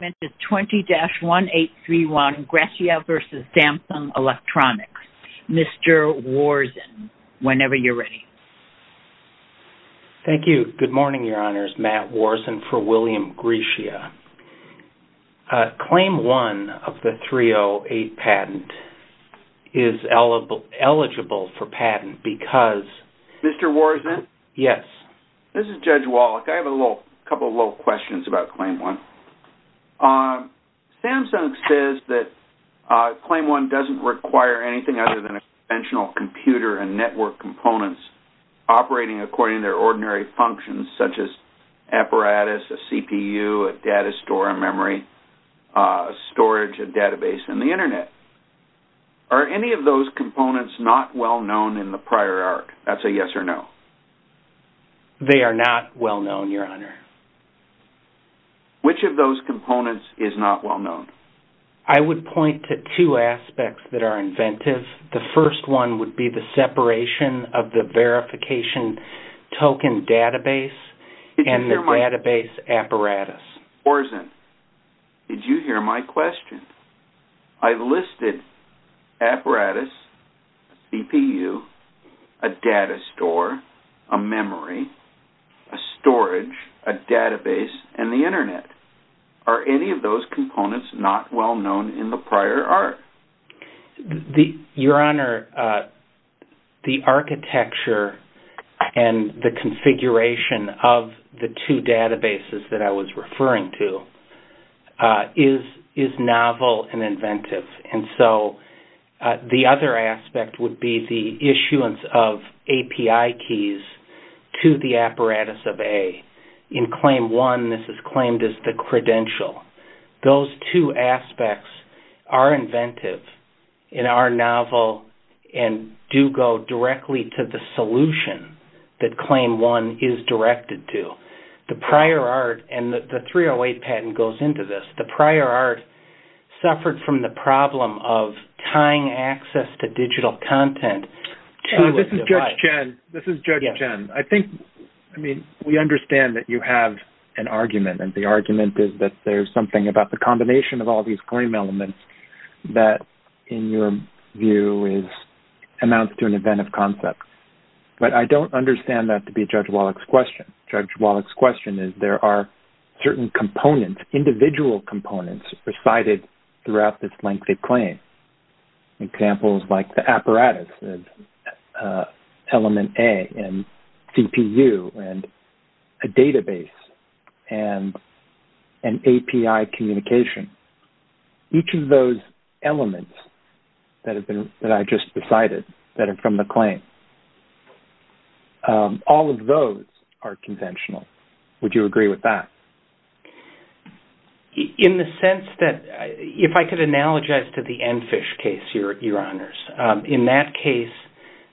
This is 20-1831 Grecia v. Samsung Electronics. Mr. Worzen, whenever you're ready. Thank you. Good morning, Your Honors. Matt Worzen for William Grecia. Claim 1 of the 308 patent is eligible for patent because... Mr. Worzen? Yes. This is Judge Wallach. I have a couple of little questions about Claim 1. Samsung says that Claim 1 doesn't require anything other than a conventional computer and network components operating according to their ordinary functions such as apparatus, a CPU, a data store, a memory, a storage, a database, and the Internet. Are any of those components not well-known in the prior arc? That's a yes or no. They are not well-known, Your Honor. Which of those components is not well-known? I would point to two aspects that are inventive. The first one would be the separation of the verification token database and the database apparatus. Mr. Worzen, did you hear my question? I listed apparatus, CPU, a data store, a memory, a storage, a database, and the Internet. Are any of those components not well-known in the prior arc? Your Honor, the architecture and the configuration of the two databases that I was referring to is novel and inventive. The other aspect would be the issuance of API keys to the apparatus of A. In Claim 1, this is claimed as the credential. Those two aspects are inventive in our novel and do go directly to the solution that Claim 1 is directed to. The prior arc, and the 308 patent goes into this, the prior arc suffered from the problem of tying access to digital content. This is Judge Chen. We understand that you have an argument. The argument is that there's something about the combination of all these claim elements that, in your view, amounts to an inventive concept. But I don't understand that to be Judge Wallach's question. Judge Wallach's question is there are certain components, individual components, presided throughout this lengthy claim. Examples like the apparatus, Element A, and CPU, and a database, and API communication. Each of those elements that I just presided, that are from the claim, all of those are conventional. Would you agree with that? In the sense that, if I could analogize to the EnFish case, Your Honors. In that case,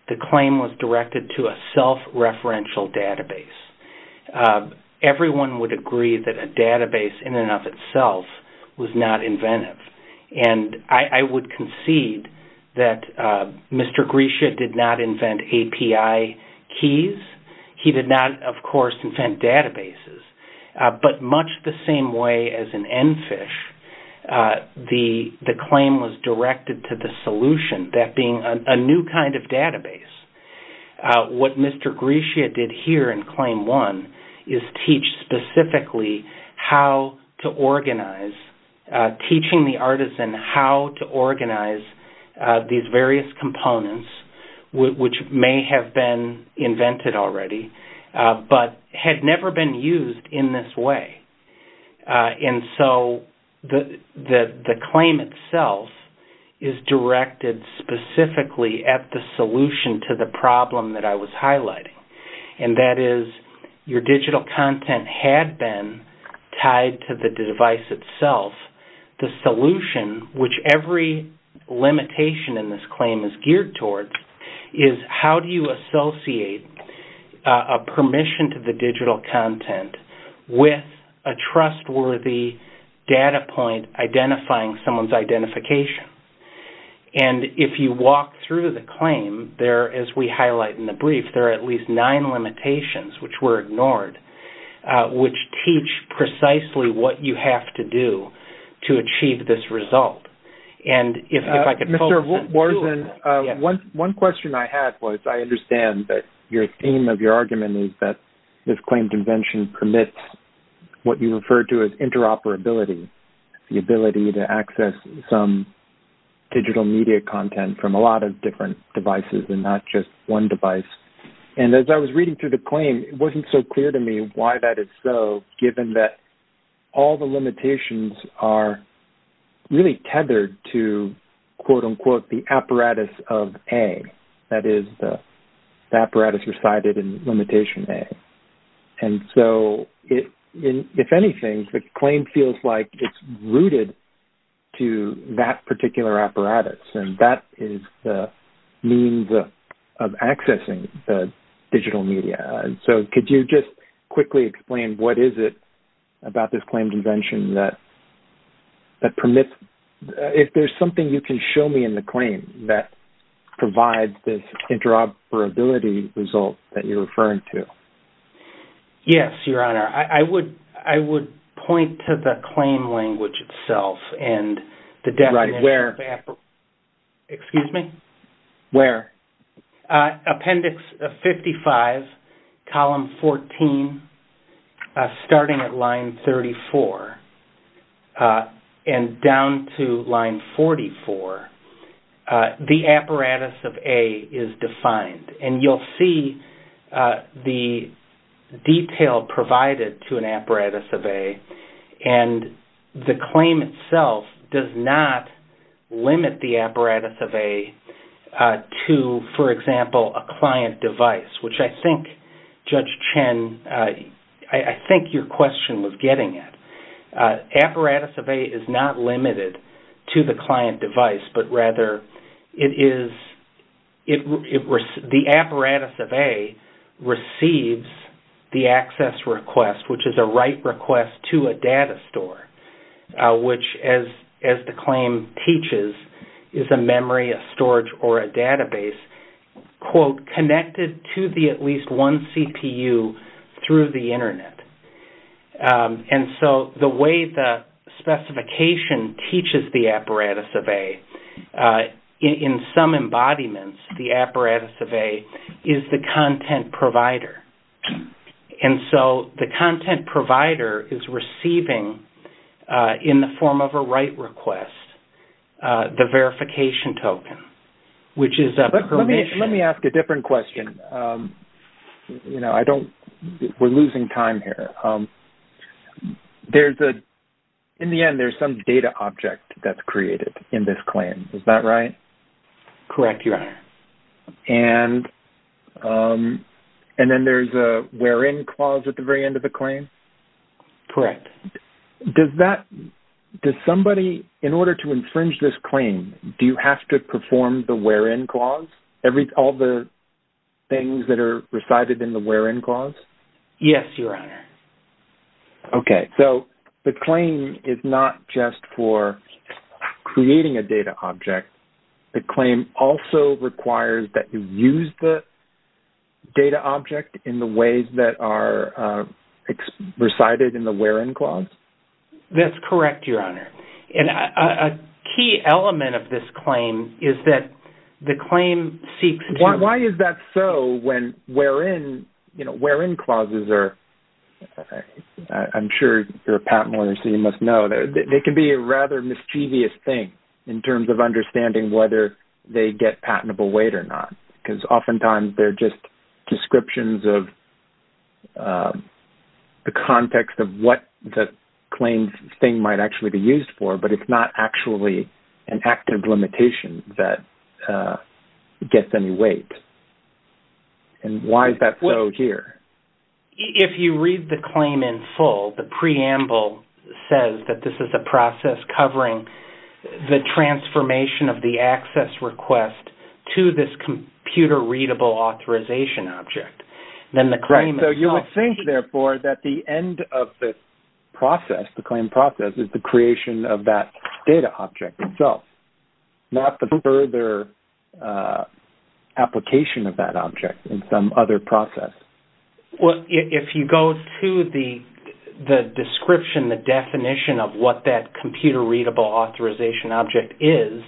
the claim was directed to a self-referential database. Everyone would agree that a database in and of itself was not inventive. I would concede that Mr. Grisha did not invent API keys. He did not, of course, invent databases. But much the same way as in EnFish, the claim was directed to the solution, that being a new kind of database. What Mr. Grisha did here in Claim 1 is teach specifically how to organize, teaching the artisan how to organize these various components, which may have been invented already, but had never been used in this way. The claim itself is directed specifically at the solution to the problem that I was highlighting. That is, your digital content had been tied to the device itself. The solution, which every limitation in this claim is geared towards, is how do you associate a permission to the digital content with a trustworthy data point identifying someone's identification. If you walk through the claim, as we highlight in the brief, there are at least nine limitations, which were ignored, which teach precisely what you have to do to achieve this result. One question I had was I understand that your theme of your argument is that this claim convention permits what you refer to as interoperability, the ability to access some digital media content from a lot of different devices and not just one device. As I was reading through the claim, it wasn't so clear to me why that is so, given that all the limitations are really tethered to, quote-unquote, the apparatus of A. That is, the apparatus resided in limitation A. If anything, the claim feels like it's rooted to that particular apparatus. That is the means of accessing the digital media. Could you just quickly explain what is it about this claim convention that permits? If there's something you can show me in the claim that provides this interoperability result that you're referring to. Yes, Your Honor. I would point to the claim language itself and the definition of apparatus. Excuse me? Where? Appendix 55, column 14, starting at line 34 and down to line 44, the apparatus of A is defined. You'll see the detail provided to an apparatus of A. The claim itself does not limit the apparatus of A to, for example, a client device, which I think, Judge Chen, I think your question was getting at. Apparatus of A is not limited to the client device, but rather it is-the apparatus of A receives the access request, which is a write request to a data store, which, as the claim teaches, is a memory, a storage, or a database, quote, and the way the specification teaches the apparatus of A, in some embodiments, the apparatus of A is the content provider. And so the content provider is receiving, in the form of a write request, the verification token, which is a permission. Let me ask a different question. You know, I don't-we're losing time here. There's a-in the end, there's some data object that's created in this claim. Is that right? Correct, Your Honor. And then there's a where in clause at the very end of the claim? Correct. Does that-does somebody, in order to infringe this claim, do you have to perform the where in clause? Every-all the things that are recited in the where in clause? Yes, Your Honor. Okay. So the claim is not just for creating a data object. The claim also requires that you use the data object in the ways that are recited in the where in clause? That's correct, Your Honor. And a key element of this claim is that the claim seeks to- Why is that so when where in-you know, where in clauses are-I'm sure you're a patent lawyer, so you must know. They can be a rather mischievous thing in terms of understanding whether they get patentable weight or not. Because oftentimes they're just descriptions of the context of what the claim thing might actually be used for, but it's not actually an active limitation that gets any weight. And why is that so here? If you read the claim in full, the preamble says that this is a process covering the transformation of the access request to this computer-readable authorization object. Then the claim- Right. So you would think, therefore, that the end of the process, the claim process, is the creation of that data object itself, not the further application of that object in some other process. Well, if you go to the description, the definition of what that computer-readable authorization object is,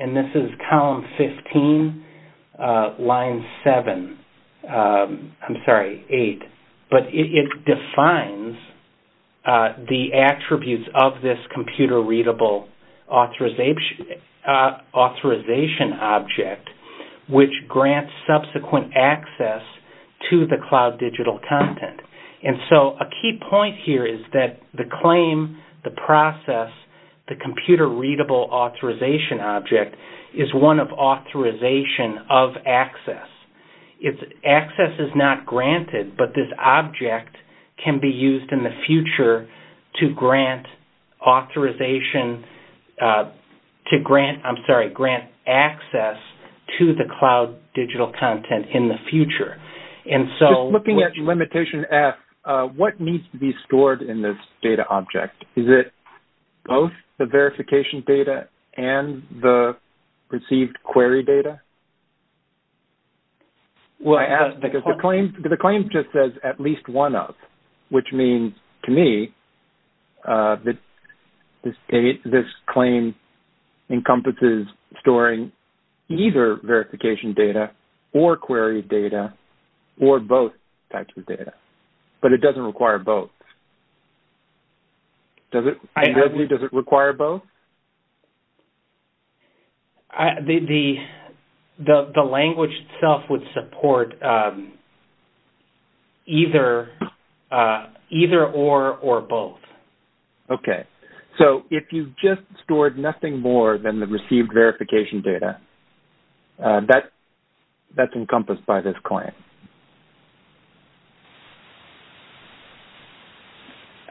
and this is column 15, line 7-I'm sorry, 8. But it defines the attributes of this computer-readable authorization object, which grants subsequent access to the cloud digital content. And so a key point here is that the claim, the process, the computer-readable authorization object is one of authorization of access. Access is not granted, but this object can be used in the future to grant authorization- I'm sorry, grant access to the cloud digital content in the future. And so- Just looking at limitation F, what needs to be stored in this data object? Is it both the verification data and the received query data? Well, I asked because the claim just says at least one of, which means to me that this claim encompasses storing either verification data or query data or both types of data. But it doesn't require both. Does it- I- Does it require both? The language itself would support either or or both. Okay. So if you just stored nothing more than the received verification data, that's encompassed by this claim?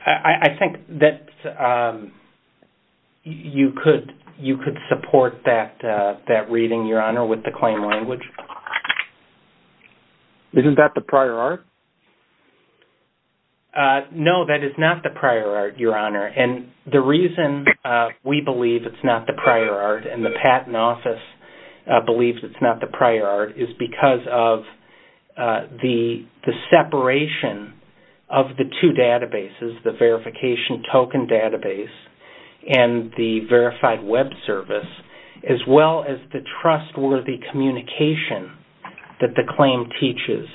I think that you could support that reading, Your Honor, with the claim language. Isn't that the prior art? No, that is not the prior art, Your Honor. And the reason we believe it's not the prior art and the Patent Office believes it's not the prior art is because of the separation of the two databases, the verification token database and the verified web service, as well as the trustworthy communication that the claim teaches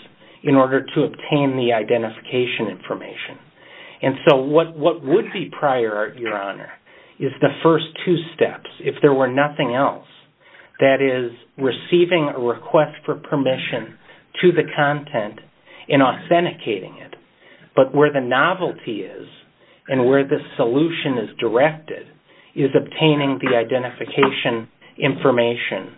in order to obtain the identification information. And so what would be prior art, Your Honor, is the first two steps. If there were nothing else, that is, receiving a request for permission to the content and authenticating it. But where the novelty is and where the solution is directed is obtaining the identification information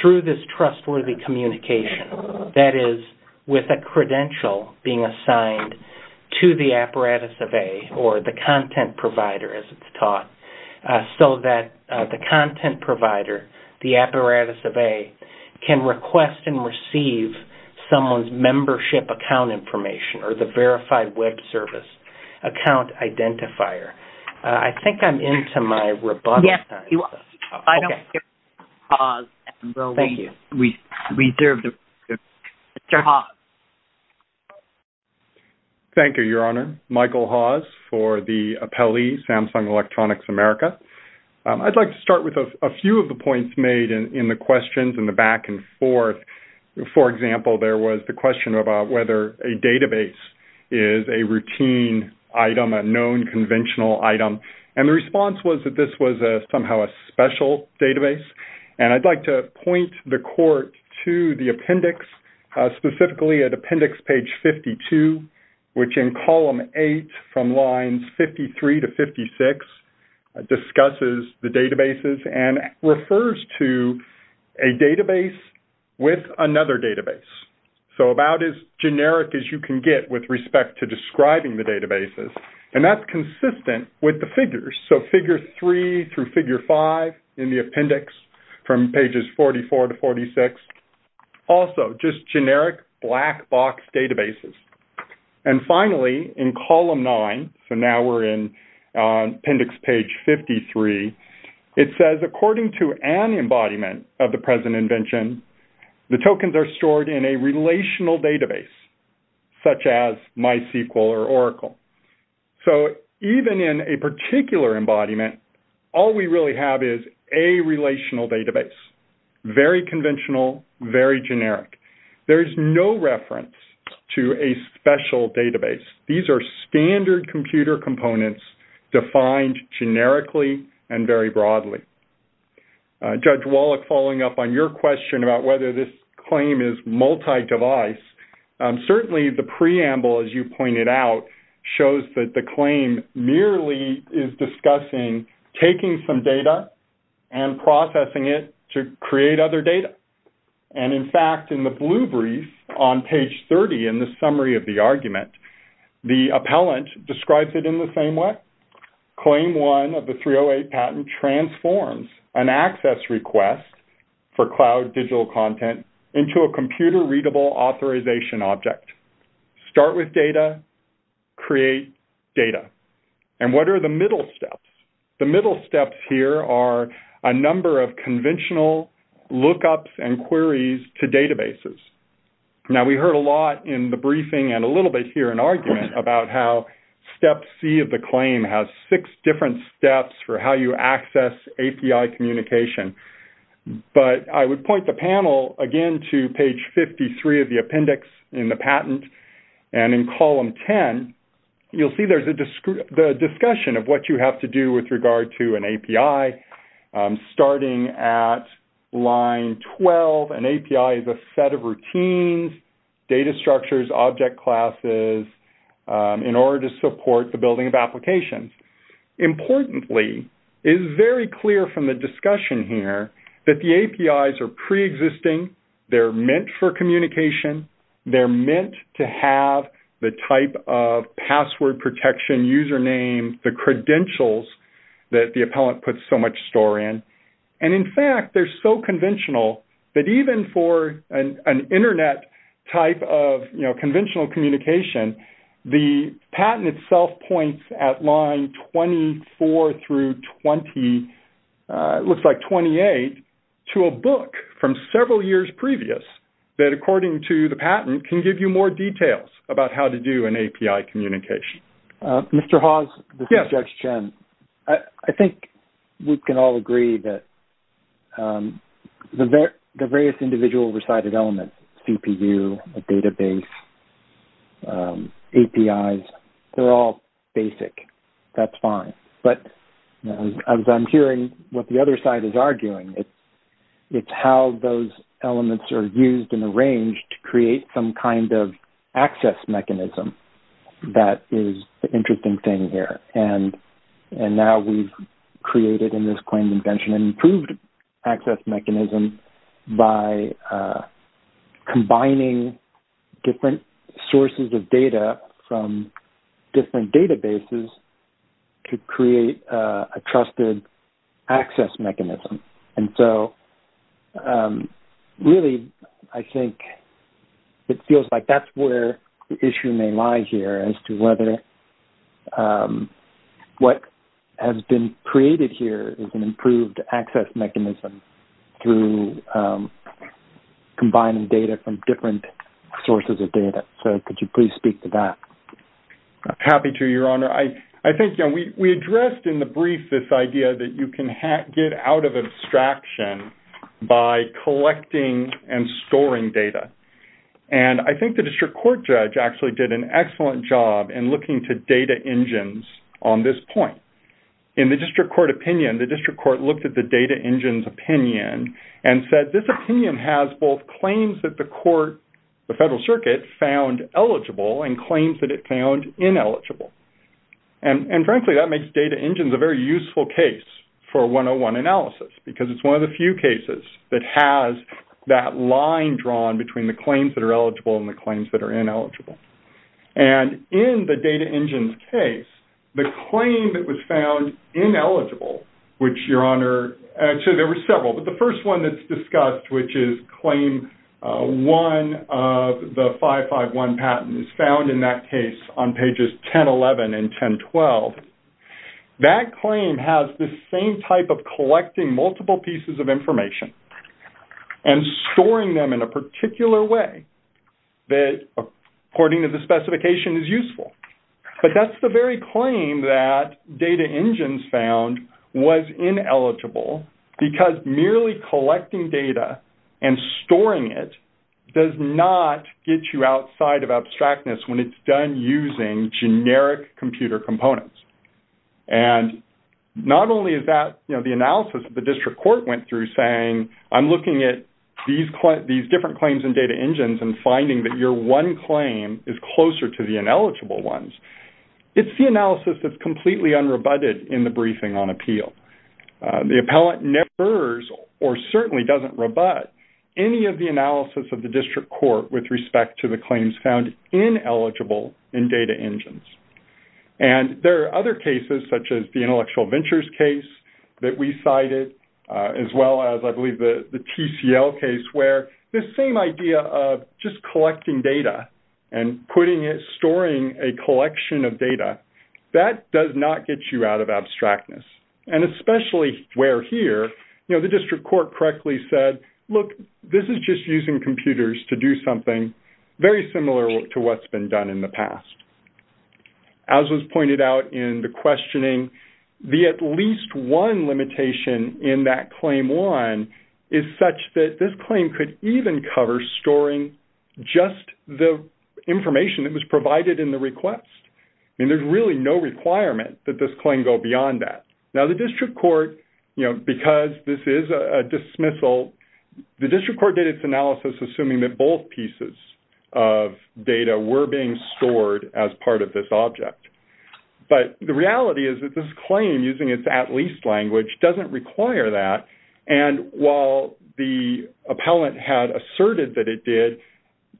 through this trustworthy communication. That is, with a credential being assigned to the apparatus of A or the content provider, as it's taught, so that the content provider, the apparatus of A, can request and receive someone's membership account information or the verified web service account identifier. I think I'm into my robust... Yes, you are. Okay. I don't hear from Mr. Hawes. Thank you. We reserve the... Mr. Hawes. Thank you, Your Honor. Michael Hawes for the appellee, Samsung Electronics America. I'd like to start with a few of the points made in the questions in the back and forth. For example, there was the question about whether a database is a routine item, a known conventional item. And the response was that this was somehow a special database. And I'd like to point the court to the appendix, specifically at appendix page 52, which in column 8 from lines 53 to 56 discusses the databases and refers to a database with another database. So about as generic as you can get with respect to describing the databases. So figure 3 through figure 5 in the appendix from pages 44 to 46. Also, just generic black box databases. And finally, in column 9, so now we're in appendix page 53, it says, according to an embodiment of the present invention, the tokens are stored in a relational database such as MySQL or Oracle. So even in a particular embodiment, all we really have is a relational database. Very conventional, very generic. There is no reference to a special database. These are standard computer components defined generically and very broadly. Judge Wallach, following up on your question about whether this claim is multi-device, certainly the preamble, as you pointed out, shows that the claim merely is discussing taking some data and processing it to create other data. And in fact, in the blue brief on page 30 in the summary of the argument, the appellant describes it in the same way. Claim 1 of the 308 patent transforms an access request for cloud digital content into a computer-readable authorization object. Start with data, create data. And what are the middle steps? The middle steps here are a number of conventional lookups and queries to databases. Now, we heard a lot in the briefing and a little bit here in argument about how Step C of the claim has six different steps for how you access API communication. But I would point the panel again to page 53 of the appendix in the patent. And in column 10, you'll see there's a discussion of what you have to do with regard to an API. Starting at line 12, an API is a set of routines, data structures, object classes, in order to support the building of applications. Importantly, it is very clear from the discussion here that the APIs are preexisting. They're meant for communication. They're meant to have the type of password protection, user name, the credentials that the appellant puts so much store in. And in fact, they're so conventional that even for an Internet type of conventional communication, the patent itself points at line 24 through 20, looks like 28, to a book from several years previous that, according to the patent, can give you more details about how to do an API communication. Mr. Hawes? Yes. This is Judge Chen. I think we can all agree that the various individual recited elements, CPU, database, APIs, they're all basic. That's fine. But as I'm hearing what the other side is arguing, it's how those elements are used and arranged to create some kind of access mechanism. That is the interesting thing here. And now we've created in this claim invention an improved access mechanism by combining different sources of data from different databases to create a trusted access mechanism. And so, really, I think it feels like that's where the issue may lie here, as to whether what has been created here is an improved access mechanism through combining data from different sources of data. So could you please speak to that? Happy to, Your Honor. I think we addressed in the brief this idea that you can get out of abstraction by collecting and storing data. And I think the district court judge actually did an excellent job in looking to data engines on this point. In the district court opinion, the district court looked at the data engine's opinion and said this opinion has both claims that the court, the Federal Circuit, found eligible and claims that it found ineligible. And, frankly, that makes data engines a very useful case for 101 analysis because it's one of the few cases that has that line drawn between the claims that are eligible and the claims that are ineligible. And in the data engine's case, the claim that was found ineligible, which, Your Honor, actually there were several, but the first one that's discussed, which is claim one of the 551 patents found in that case on pages 1011 and 1012, that claim has the same type of collecting multiple pieces of information and storing them in a particular way that, according to the specification, is useful. But that's the very claim that data engines found was ineligible because merely collecting data and storing it does not get you outside of abstractness when it's done using generic computer components. And not only is that the analysis that the district court went through saying, I'm looking at these different claims in data engines and finding that your one claim is closer to the ineligible ones. It's the analysis that's completely unrebutted in the briefing on appeal. The appellant never or certainly doesn't rebut any of the analysis of the district court with respect to the claims found ineligible in data engines. And there are other cases, such as the Intellectual Ventures case that we cited, as well as, I believe, the TCL case, where this same idea of just collecting data and storing a collection of data, that does not get you out of abstractness. And especially where here, you know, the district court correctly said, look, this is just using computers to do something very similar to what's been done in the past. As was pointed out in the questioning, the at least one limitation in that Claim 1 is such that this claim could even cover storing just the information that was provided in the request. I mean, there's really no requirement that this claim go beyond that. Now, the district court, you know, because this is a dismissal, the district court did its analysis assuming that both pieces of data were being stored as part of this object. But the reality is that this claim, using its at least language, doesn't require that. And while the appellant had asserted that it did,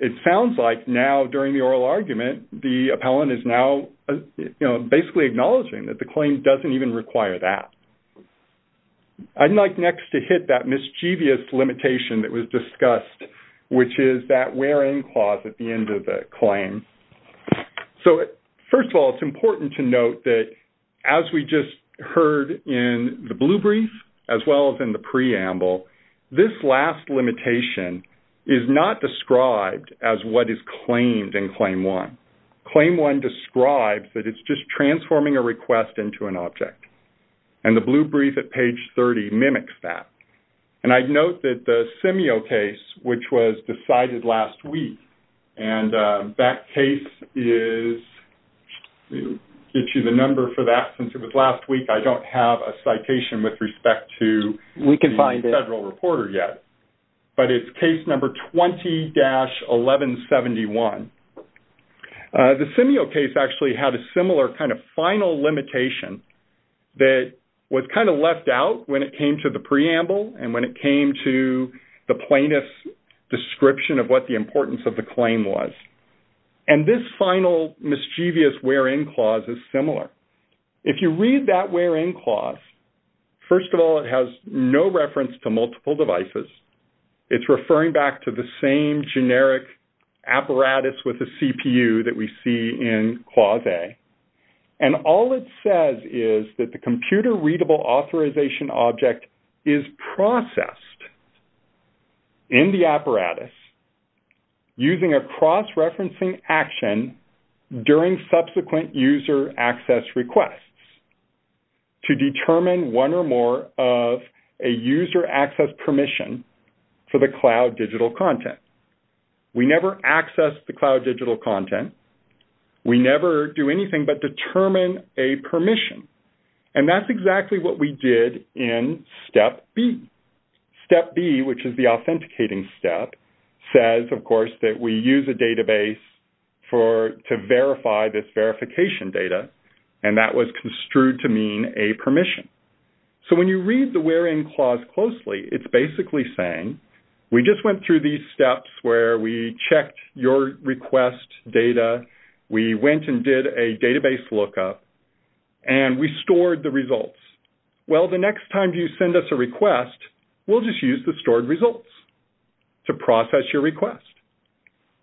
it sounds like now, during the oral argument, the appellant is now, you know, basically acknowledging that the claim doesn't even require that. I'd like next to hit that mischievous limitation that was discussed, which is that where in clause at the end of the claim. So, first of all, it's important to note that, as we just heard in the blue brief, as well as in the preamble, this last limitation is not described as what is claimed in Claim 1. Claim 1 describes that it's just transforming a request into an object. And the blue brief at page 30 mimics that. And I'd note that the Simio case, which was decided last week, and that case is, I'll give you the number for that since it was last week, I don't have a citation with respect to the federal reporter yet. But it's case number 20-1171. The Simio case actually had a similar kind of final limitation that was kind of left out when it came to the preamble and when it came to the plaintiff's description of what the importance of the claim was. And this final mischievous where in clause is similar. If you read that where in clause, first of all, it has no reference to multiple devices. It's referring back to the same generic apparatus with a CPU that we see in Clause A. And all it says is that the computer readable authorization object is processed in the apparatus using a cross-referencing action during subsequent user access requests to determine one or more of a user access permission for the cloud digital content. We never access the cloud digital content. We never do anything but determine a permission. And that's exactly what we did in Step B. Step B, which is the authenticating step, says, of course, that we use a database to verify this verification data. And that was construed to mean a permission. So when you read the where in clause closely, it's basically saying, we just went through these steps where we checked your request data. We went and did a database lookup. And we stored the results. Well, the next time you send us a request, we'll just use the stored results to process your request.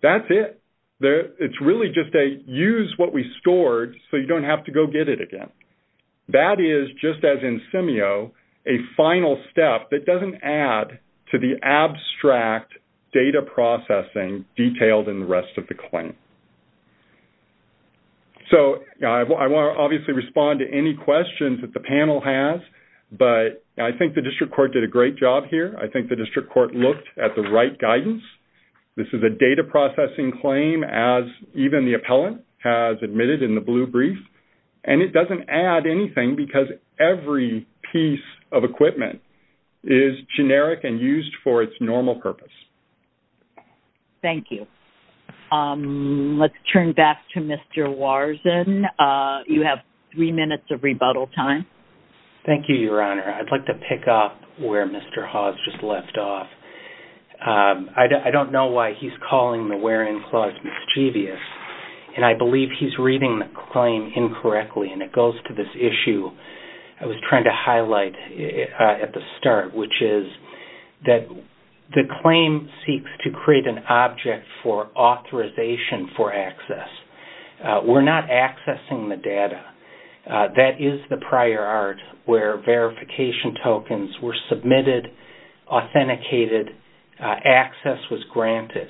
That's it. It's really just a use what we stored so you don't have to go get it again. That is, just as in Simio, a final step that doesn't add to the abstract data processing detailed in the rest of the claim. So I want to obviously respond to any questions that the panel has. But I think the district court did a great job here. I think the district court looked at the right guidance. This is a data processing claim, as even the appellant has admitted in the blue brief. And it doesn't add anything because every piece of equipment is generic and used for its normal purpose. Thank you. Let's turn back to Mr. Warzen. You have three minutes of rebuttal time. Thank you, Your Honor. I'd like to pick up where Mr. Hawes just left off. I don't know why he's calling the where in clause mischievous. And I believe he's reading the claim incorrectly. And it goes to this issue I was trying to highlight at the start, which is that the claim seeks to create an object for authorization for access. We're not accessing the data. That is the prior art where verification tokens were submitted, authenticated, access was granted.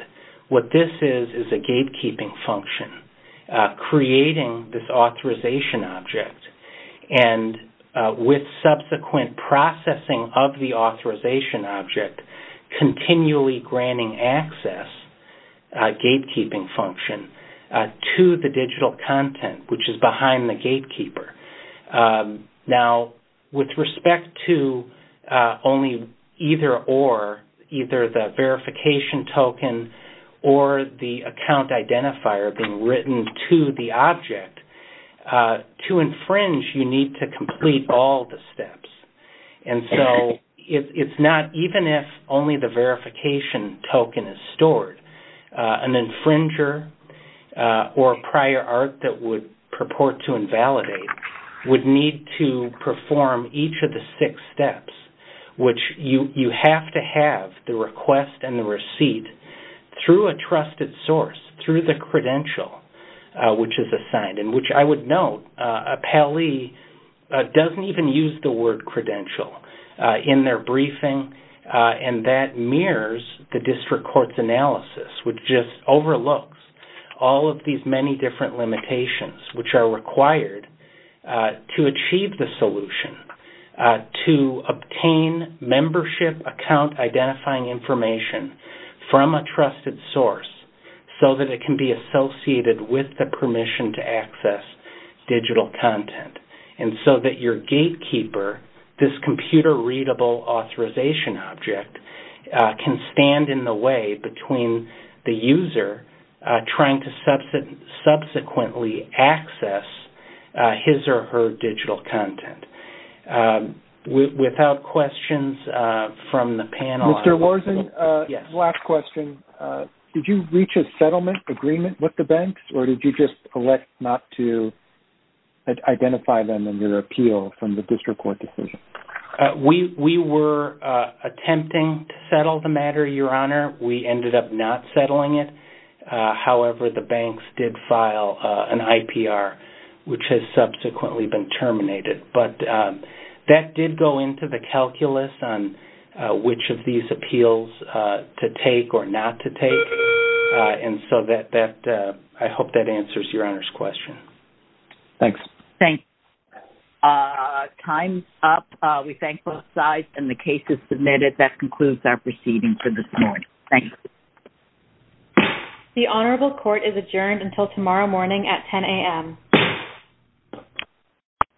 What this is is a gatekeeping function creating this authorization object. And with subsequent processing of the authorization object, continually granting access gatekeeping function to the digital content, which is behind the gatekeeper. Now, with respect to only either or, either the verification token or the account identifier being written to the object, to infringe, you need to complete all the steps. And so it's not even if only the verification token is stored. An infringer or prior art that would purport to invalidate would need to perform each of the six steps, which you have to have the request and the receipt through a trusted source, through the credential which is assigned, and which I would note, Pally doesn't even use the word credential in their briefing. And that mirrors the district court's analysis, which just overlooks all of these many different limitations, which are required to achieve the solution to obtain membership account identifying information from a trusted source so that it can be associated with the permission to access digital content. And so that your gatekeeper, this computer-readable authorization object, can stand in the way between the user trying to subsequently access his or her digital content. Without questions from the panel... Mr. Lorzen, last question. Did you reach a settlement agreement with the banks, or did you just elect not to identify them under appeal from the district court decision? We were attempting to settle the matter, Your Honor. We ended up not settling it. However, the banks did file an IPR, which has subsequently been terminated. But that did go into the calculus on which of these appeals to take or not to take. And so I hope that answers Your Honor's question. Thanks. Thanks. Time's up. We thank both sides, and the case is submitted. That concludes our proceedings for this morning. Thanks. The Honorable Court is adjourned until tomorrow morning at 10 a.m.